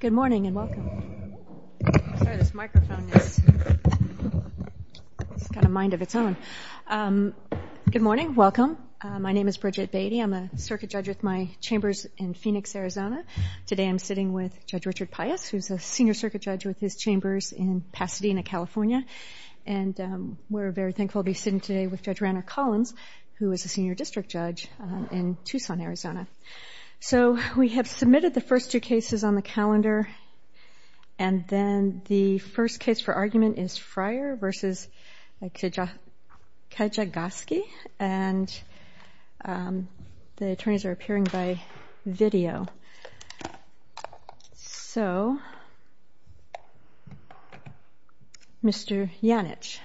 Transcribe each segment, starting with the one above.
Good morning and welcome. My name is Bridget Beattie. I'm a circuit judge with my chambers in Phoenix, Arizona. Today I'm sitting with Judge Richard Pius, who's a senior circuit judge with his chambers in Pasadena, California. And we're very thankful to be sitting today with Judge Rainer Collins, who is a senior district judge in Tucson, Arizona. So we have submitted the first two cases on the calendar. And then the first case for argument is Fryer v. Kijakazi. And the attorneys are appearing by video. So, Mr. Janich.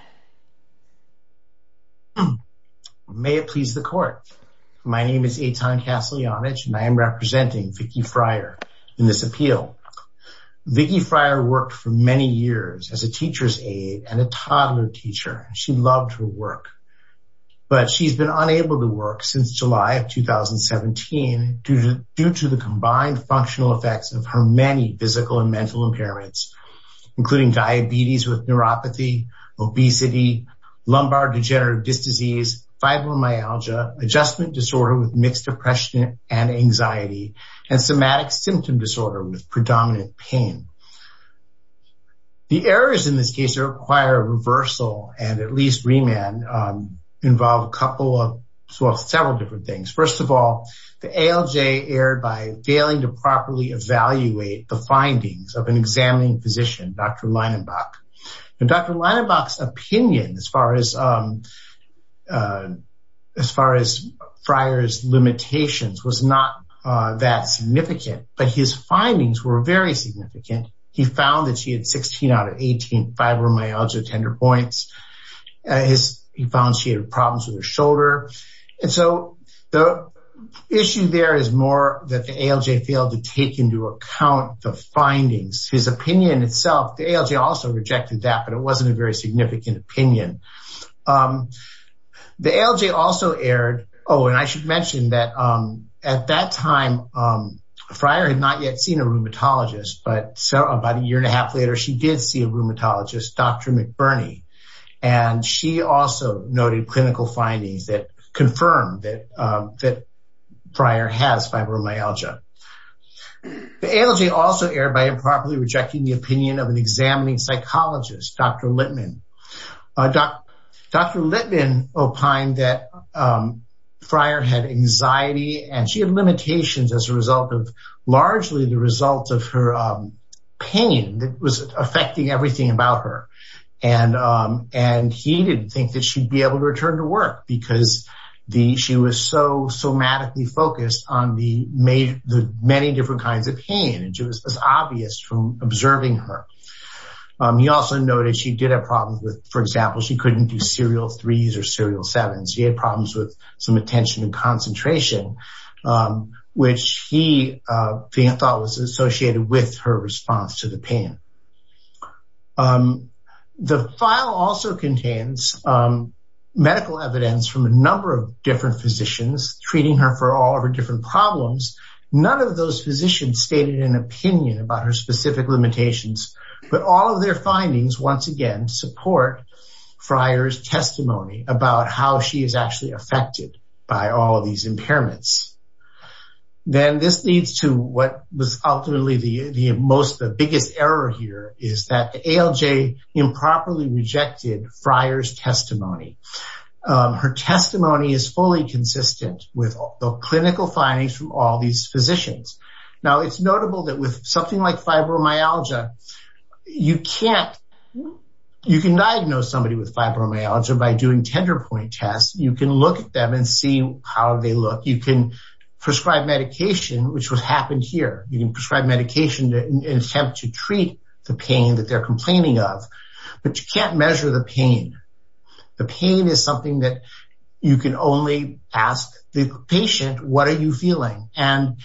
May it please the court. My name is Eitan Castle Janich and I am representing Vicky Fryer in this She loved her work. But she's been unable to work since July of 2017 due to the combined functional effects of her many physical and mental impairments, including diabetes with neuropathy, obesity, lumbar degenerative disease, fibromyalgia, adjustment disorder with mixed depression and anxiety, and somatic symptom disorder with predominant pain. The errors in this case require reversal and at least remand involve several different things. First of all, the ALJ erred by failing to properly evaluate the findings of an examining physician, Dr. Leinenbach. Dr. Leinenbach's opinion as far as Fryer's limitations was not that significant, but his findings were very significant. He found that she had 16 out of 18 fibromyalgia tender points. He found she had problems with her shoulder. And so the issue there is more that the ALJ failed to take into account the findings. His opinion itself, the ALJ also rejected that, but it wasn't a very significant opinion. The ALJ also erred. Oh, and I should mention that at that time, Fryer had not yet seen a rheumatologist, but so about a year and a half later, she did see a rheumatologist, Dr. McBurney. And she also noted clinical findings that confirmed that Fryer has fibromyalgia. The ALJ also erred by improperly rejecting the opinion of an examining psychologist, Dr. Littman. Dr. Littman opined that anxiety and she had limitations as a result of largely the result of her pain that was affecting everything about her. And he didn't think that she'd be able to return to work because she was so somatically focused on the many different kinds of pain. And it was obvious from observing her. He also noted she did have problems with, for example, she couldn't do threes or serial sevens. She had problems with some attention and concentration, which he thought was associated with her response to the pain. The file also contains medical evidence from a number of different physicians treating her for all of her different problems. None of those physicians stated an opinion about her specific limitations. But all of their findings, once again, support Fryer's testimony about how she is actually affected by all of these impairments. Then this leads to what was ultimately the most, the biggest error here is that ALJ improperly rejected Fryer's testimony. Her testimony is fully consistent with the clinical findings from all these physicians. Now, it's notable that with something like fibromyalgia, you can't, you can diagnose somebody with fibromyalgia by doing tender point tests, you can look at them and see how they look, you can prescribe medication, which was happened here, you can prescribe medication to attempt to treat the pain that they're complaining of. But you can't measure the pain. The pain is something that you can only ask the patient, what are you feeling? And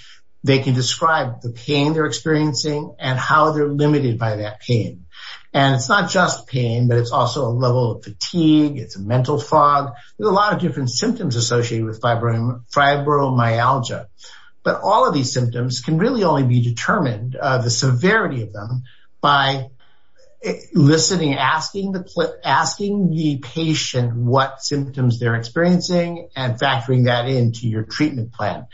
they can describe the pain they're experiencing and how they're limited by that pain. And it's not just pain, but it's also a level of fatigue, it's a mental fog, there's a lot of different symptoms associated with fibromyalgia. But all of these symptoms can really only be determined, the severity of them by listening, asking the patient what symptoms they're experiencing and factoring that into your treatment plan.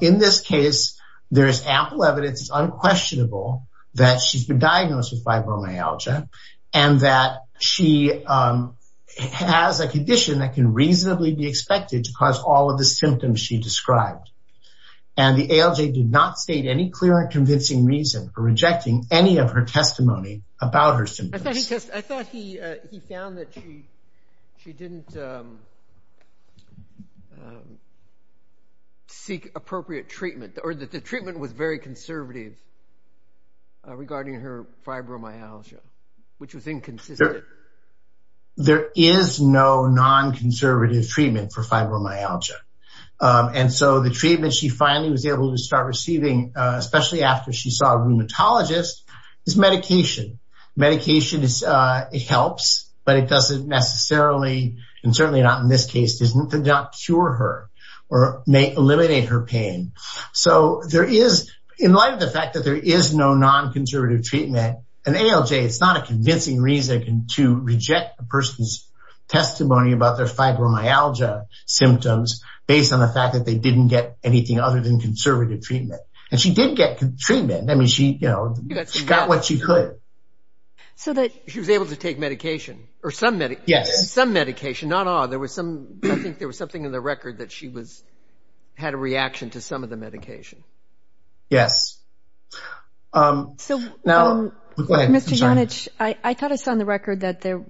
In this case, there is ample evidence, it's unquestionable that she's been diagnosed with fibromyalgia, and that she has a condition that can reasonably be expected to cause all of the symptoms she described. And the ALJ did not state any clear and convincing reason for rejecting any of her testimony about her symptoms. I thought he found that she didn't seek appropriate treatment, or that the treatment was very conservative regarding her fibromyalgia, which was inconsistent. There is no non-conservative treatment for fibromyalgia. And so the treatment she finally was able to start receiving, especially after she saw a rheumatologist, is medication. Medication is, it helps, but it doesn't necessarily, and certainly not in this case, doesn't not cure her, or may eliminate her pain. So there is, in light of the fact that there is no non-conservative treatment, an ALJ, it's not a convincing reason to reject a person's testimony about their fibromyalgia symptoms, based on the fact that they didn't get anything other than conservative treatment. And she did get treatment. I mean, she, you know, she got what she could. So that she was able to take medication, or some medication, not all. There was some, I think there was something in the record that she was, had a reaction to some of the medication. Yes. So now, Mr. Yonich, I thought I saw on the record that there,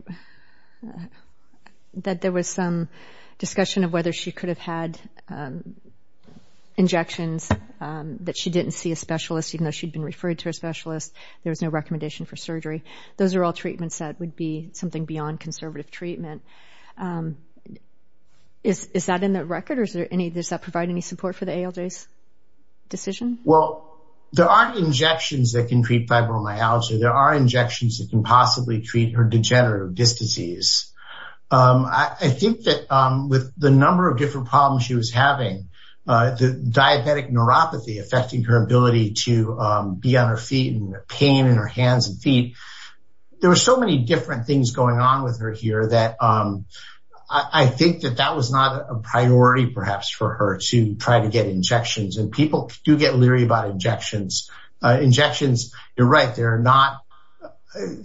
that there was some discussion of whether she could have had injections, that she didn't see a specialist, even though she'd been referred to a specialist. There was no recommendation for surgery. Those are all treatments that would be something beyond conservative treatment. Is that in the record? Or is there any, does that provide any support for the ALJ's decision? Well, there aren't injections that can treat fibromyalgia. There are injections that can treat her degenerative disc disease. I think that with the number of different problems she was having, the diabetic neuropathy affecting her ability to be on her feet and the pain in her hands and feet. There were so many different things going on with her here that I think that that was not a priority, perhaps, for her to try to get injections. And people do get leery about injections. You're right. They're not,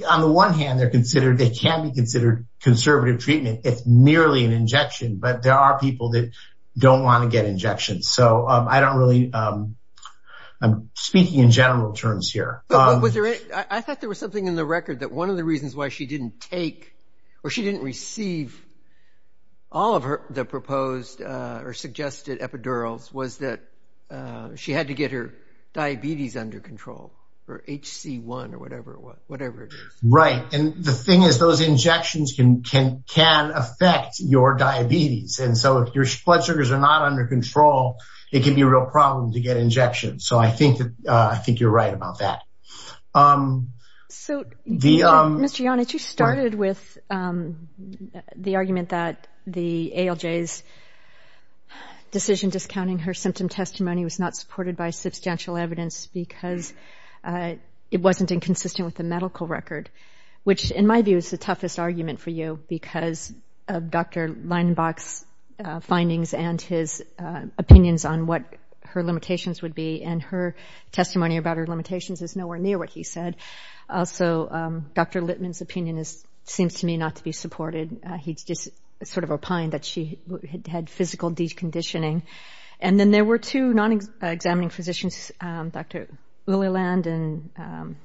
on the one hand, they're considered, they can be considered conservative treatment. It's merely an injection, but there are people that don't want to get injections. So I don't really, I'm speaking in general terms here. I thought there was something in the record that one of the reasons why she didn't take, or she didn't receive all of her, the proposed or suggested epidurals was that she had to get her diabetes under control, or HC1 or whatever it was, whatever it is. Right. And the thing is, those injections can affect your diabetes. And so if your blood sugars are not under control, it can be a real problem to get injections. So I think that, I think you're right about that. So, Mr. Yonitz, you started with the argument that the ALJ's decision discounting her symptom testimony was not supported by substantial evidence because it wasn't inconsistent with the medical record, which in my view is the toughest argument for you because of Dr. Leinenbach's findings and his opinions on what her limitations would be. And her testimony about her limitations is nowhere near what he said. Also, Dr. Littman's opinion seems to me not to be supported. He just sort of opined that she had physical deconditioning. And then there were two non-examining physicians, Dr. Lilliland and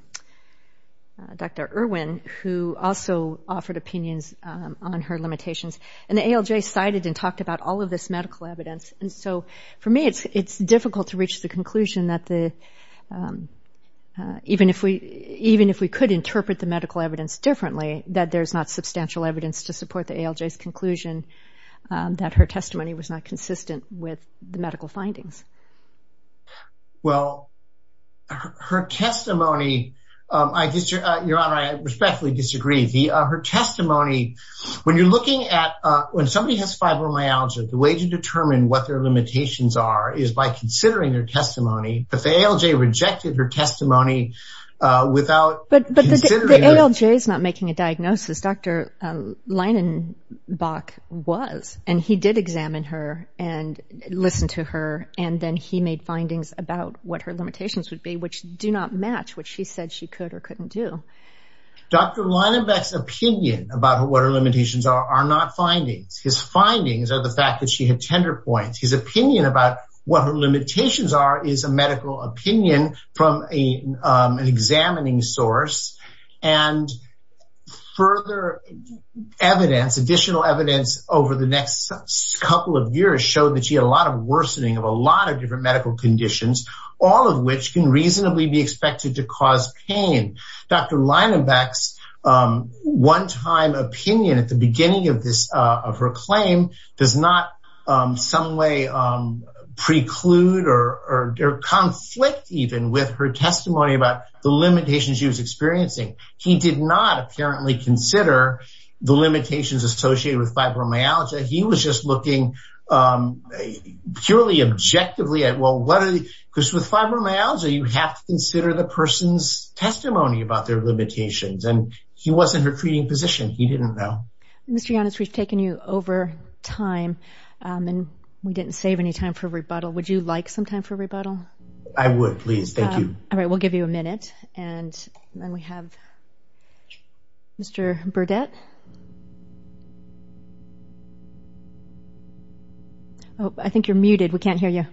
Dr. Irwin, who also offered opinions on her limitations. And the ALJ cited and talked about all of this medical evidence. And so for me, it's difficult to reach the conclusion that the, even if we could interpret the medical evidence differently, that there's not substantial evidence to support the ALJ's conclusion that her testimony was not consistent with the medical findings. Well, her testimony, your Honor, I respectfully disagree. Her testimony, when you're looking at, when somebody has fibromyalgia, the way to determine what their ALJ rejected her testimony without... But the ALJ is not making a diagnosis. Dr. Leinenbach was, and he did examine her and listen to her. And then he made findings about what her limitations would be, which do not match what she said she could or couldn't do. Dr. Leinenbach's opinion about what her limitations are, are not findings. His findings are the fact she had tender points. His opinion about what her limitations are is a medical opinion from an examining source. And further evidence, additional evidence over the next couple of years showed that she had a lot of worsening of a lot of different medical conditions, all of which can reasonably be expected to cause pain. Dr. Leinenbach's one-time opinion at the some way preclude or conflict even with her testimony about the limitations she was experiencing. He did not apparently consider the limitations associated with fibromyalgia. He was just looking purely objectively at, well, what are the, because with fibromyalgia, you have to consider the person's testimony about their limitations. And he wasn't her treating position. Mr. Giannis, we've taken you over time and we didn't save any time for rebuttal. Would you like some time for rebuttal? I would please. Thank you. All right. We'll give you a minute. And then we have Mr. Burdett. Oh, I think you're muted. We can't hear you.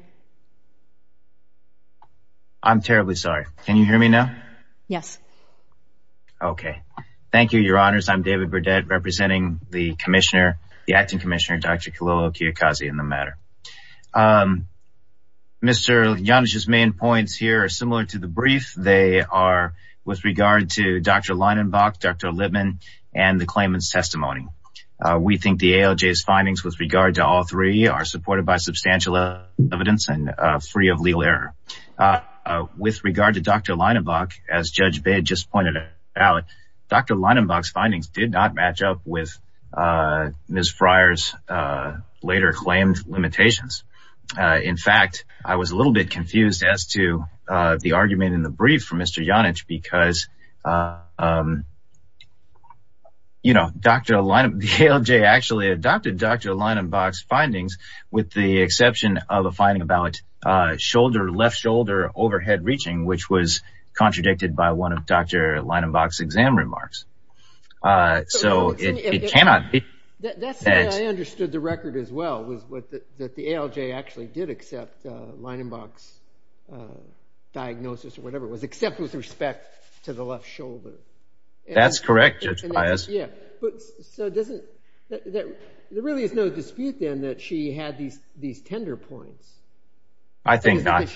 I'm terribly sorry. Can you hear me now? Yes. Okay. Thank you, your honors. I'm David Burdett representing the commissioner, the acting commissioner, Dr. Khalil Kiyokazi in the matter. Mr. Giannis's main points here are similar to the brief. They are with regard to Dr. Leinenbach, Dr. Littman, and the claimant's testimony. We think the ALJ's findings with regard to all three are supported by substantial evidence and free of legal error. With regard to Dr. Leinenbach, as Judge Baird just pointed out, Dr. Leinenbach's findings did not match up with Ms. Fryer's later claimed limitations. In fact, I was a little bit confused as to the argument in the brief from Mr. Giannis because the ALJ actually adopted Dr. Leinenbach's findings with the exception of a finding about left shoulder overhead reaching, which was contradicted by one of Dr. Leinenbach's exam remarks. That's the way I understood the record as well, was that the ALJ actually did accept Leinenbach's diagnosis, or whatever it was, except with respect to the left shoulder. That's correct, Judge Pius. There really is no dispute then that she had these tender points. I think not.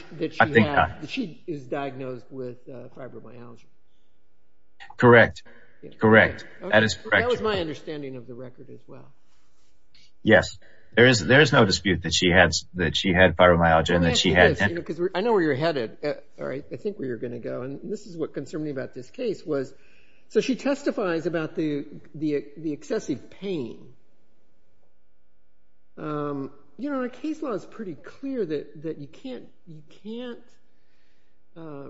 She is diagnosed with fibromyalgia. Correct. Correct. That is correct. That was my understanding of the record as well. Yes, there is no dispute that she had fibromyalgia. I know where you're headed, or I think where you're going to go, and this is what concerned me about this case. She testifies about the excessive pain. Our case law is pretty clear that you can't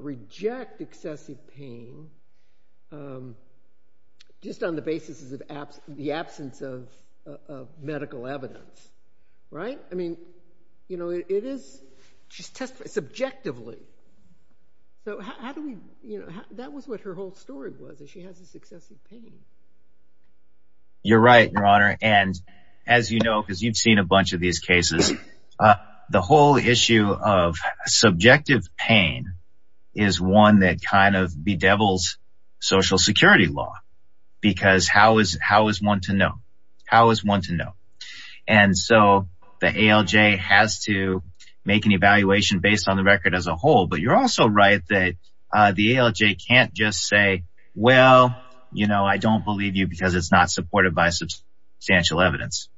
reject excessive pain just on the basis of the absence of medical evidence, right? I mean, she's testifying subjectively. That was what her whole story was, that she has this excessive pain. You're right, Your Honor. As you know, because you've seen a bunch of these cases, the whole issue of subjective pain is one that kind of bedevils social security law, because how is one to know? The ALJ has to make an evaluation based on the record as a whole, but you're also right that the ALJ can't just say, well, I don't believe you because it's not supported by substantial evidence.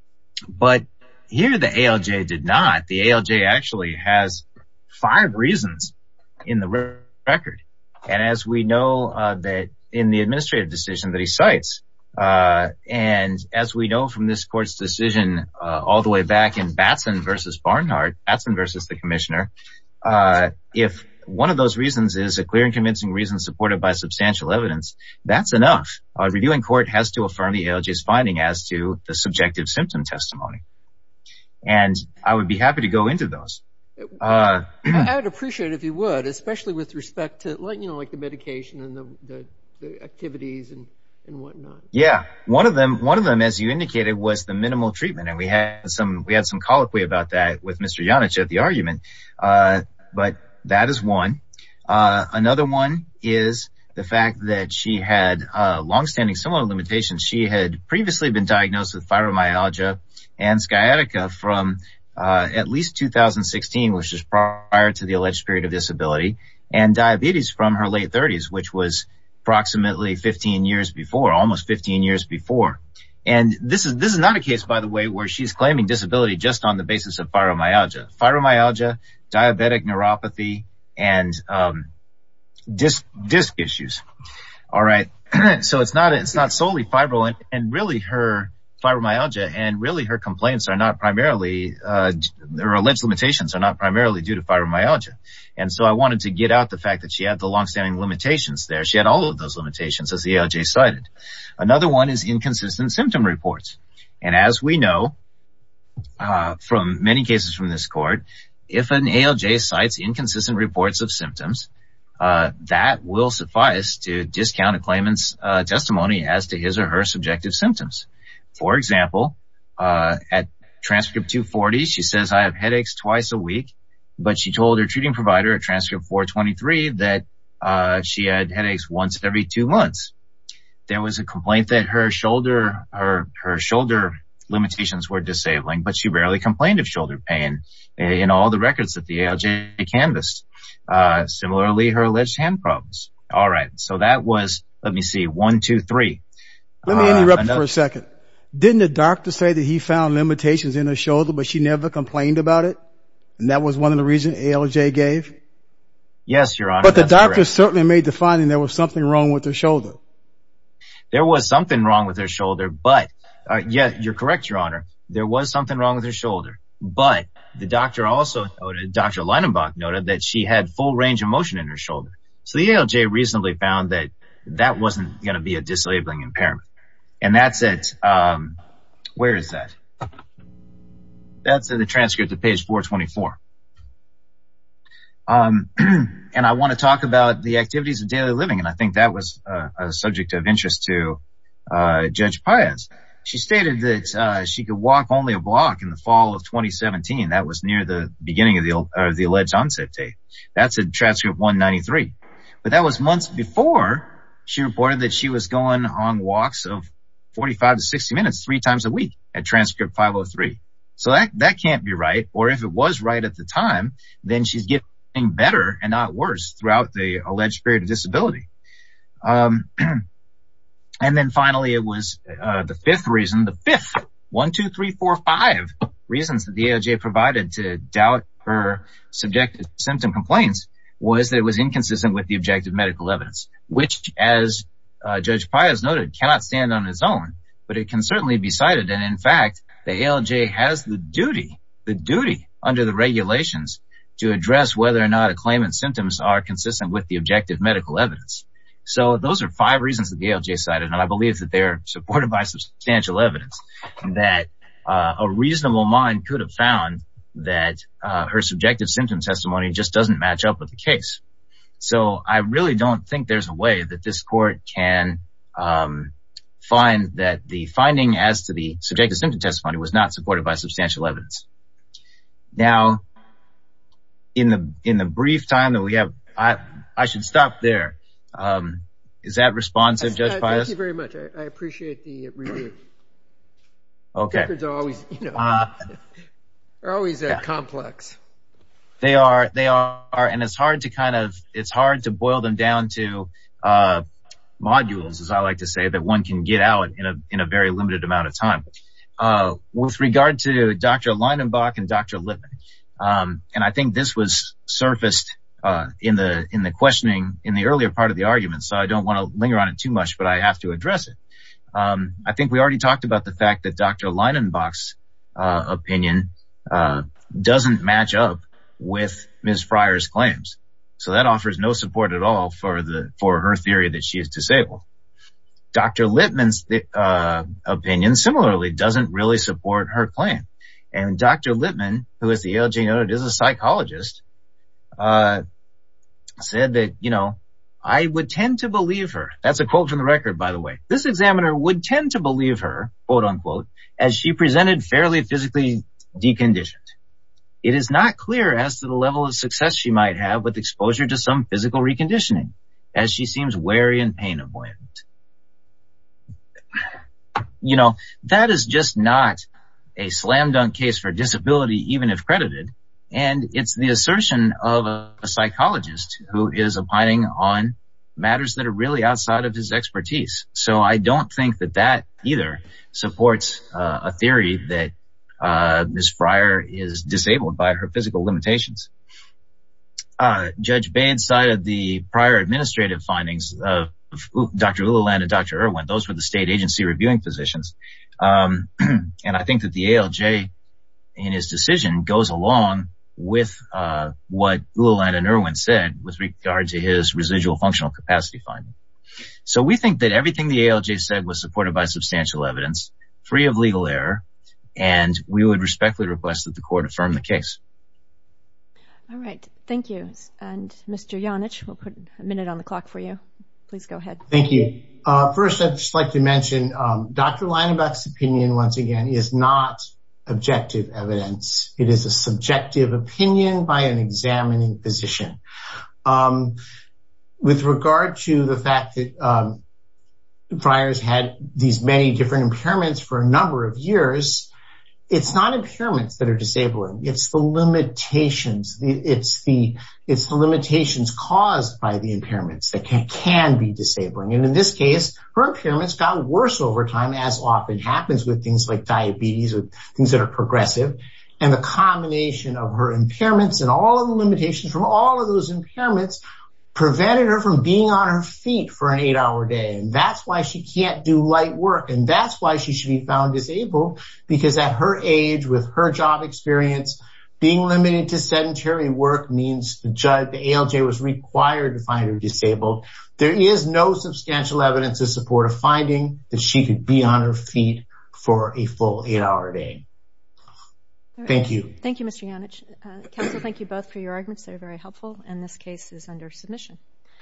But here, the ALJ did not. The ALJ actually has five reasons in the record, and as we know that in the administrative decision that he cites, and as we know from this court's decision all the way back in Batson versus Barnhart, Batson versus the commissioner, if one of those reasons is a clear and convincing reason supported by substantial evidence, that's enough. A reviewing court has to affirm the ALJ's finding as to the subjective symptom testimony. And I would be happy to go into those. I would appreciate it if you would, especially with respect to the medication and the activities and whatnot. Yeah. One of them, as you indicated, was the minimal treatment, and we had some colloquy about that with Mr. Janice at the argument, but that is one. Another one is the fact that she had longstanding similar limitations. She had previously been diagnosed with fibromyalgia, and sciatica from at least 2016, which is prior to the alleged period of disability, and diabetes from her late 30s, which was approximately 15 years before, almost 15 years before. And this is not a case, by the way, where she's claiming disability just on the basis of fibromyalgia. Fibromyalgia, diabetic neuropathy, and disc issues. All right, so it's not solely fibro, and really her fibromyalgia and really her complaints are not primarily, their alleged limitations are not primarily due to fibromyalgia. And so I wanted to get out the fact that she had the longstanding limitations there. She had all of those limitations as the ALJ cited. Another one is inconsistent symptom reports. And as we know from many cases from this court, if an ALJ cites inconsistent reports of symptoms, that will suffice to discount a claimant's testimony as to his or her subjective symptoms. For example, at transcript 240, she says, I have headaches twice a week, but she told her treating provider at transcript 423 that she had headaches once every two months. There was a complaint that her shoulder limitations were disabling, but she rarely complained of shoulder pain in all the records that the ALJ canvassed. Similarly, her alleged hand problems. All right. So that was, let me see. One, two, three. Let me interrupt you for a second. Didn't the doctor say that he found limitations in her shoulder, but she never complained about it? And that was one of the reasons ALJ gave? Yes, your honor. But the doctor certainly made the finding there was something wrong with her shoulder. There was something wrong with her shoulder, but yeah, you're correct, your honor. There was something wrong with her shoulder, but the doctor also noted, Dr. Leidenbach noted that she had full range of motion in her shoulder. So the ALJ recently found that that wasn't going to be a disabling impairment. And that's it. Where is that? That's the transcript to page 424. And I want to talk about the activities of daily living. And I think that was a subject of interest to Judge Paez. She stated that she could walk only a block in the fall of 2017. That was near the beginning of the alleged onset date. That's in transcript 193. But that was months before she reported that she was going on walks of 45 to 60 minutes, three times a week at transcript 503. So that can't be right. Or if it was right at the time, then she's getting better and not worse throughout the alleged period of disability. And then finally, it was the fifth reason, 1, 2, 3, 4, 5 reasons that the ALJ provided to doubt her subjective symptom complaints was that it was inconsistent with the objective medical evidence, which as Judge Paez noted, cannot stand on its own. But it can certainly be cited. And in fact, the ALJ has the duty, the duty under the regulations to address whether or not a claimant's symptoms are consistent with the objective medical evidence. So those are five reasons that the ALJ cited. And I believe that they're supported by substantial evidence that a reasonable mind could have found that her subjective symptom testimony just doesn't match up with the case. So I really don't think there's a way that this court can find that the finding as to the subjective symptom testimony was not supported by substantial evidence. Now, in the brief time that we have, I should stop there. Is that responsive, Judge Paez? Thank you very much. I appreciate the review. Okay. They're always complex. They are. They are. And it's hard to kind of, it's hard to boil them down to modules, as I like to say, that one can get out in a very limited amount of time. With regard to Dr. Leinenbach and Dr. Lippmann, and I think this was surfaced in the questioning in the earlier part of the argument, so I don't want to linger on it too much, but I have to address it. I think we already talked about the fact that Dr. Leinenbach's opinion doesn't match up with Ms. Fryer's claims. So that offers no support at all for her theory that she is disabled. Dr. Lippmann's opinion, similarly, doesn't really support her claim. And Dr. Lippmann, who is the ALJ noted as a psychologist, said that, you know, I would tend to believe her. That's a quote from the record, by the way. This examiner would tend to believe her, quote unquote, as she presented fairly physically deconditioned. It is not clear as to the level of success she might have with exposure to some physical reconditioning as she seems wary and pain avoidant. You know, that is just not a slam dunk case for disability, even if credited. And it's the assertion of a psychologist who is opining on matters that are really outside of his expertise. So I don't think that that either supports a theory that Ms. Fryer is disabled by her physical limitations. Judge Bain cited the prior administrative findings of Dr. Lululand and Dr. Irwin. Those were the state agency reviewing physicians. And I think that the ALJ in his decision goes along with what Lululand and Irwin said with regard to his residual functional capacity finding. So we think that everything the ALJ said was supported by substantial evidence, free of legal error. And we would respectfully request that the court affirm the case. All right. Thank you. And Mr. Janich, we'll put a minute on the clock for you. Please go ahead. Thank you. First, I'd just like to mention Dr. Leinebach's opinion, once again, is not objective evidence. It is a subjective opinion by an examining physician. And with regard to the fact that Fryer's had these many different impairments for a number of years, it's not impairments that are disabling. It's the limitations. It's the limitations caused by the impairments that can be disabling. And in this case, her impairments got worse over time, as often happens with things like diabetes or things that are progressive. And the combination of her impairments and all of the limitations from all of those impairments prevented her from being on her feet for an eight-hour day. And that's why she can't do light work. And that's why she should be found disabled. Because at her age, with her job experience, being limited to sedentary work means the ALJ was required to find her disabled. There is no substantial evidence to support a finding that she could be on her feet for a full eight-hour day. Thank you. Thank you, Mr. Janich. Counsel, thank you both for your arguments. They were very helpful. And this case is under submission.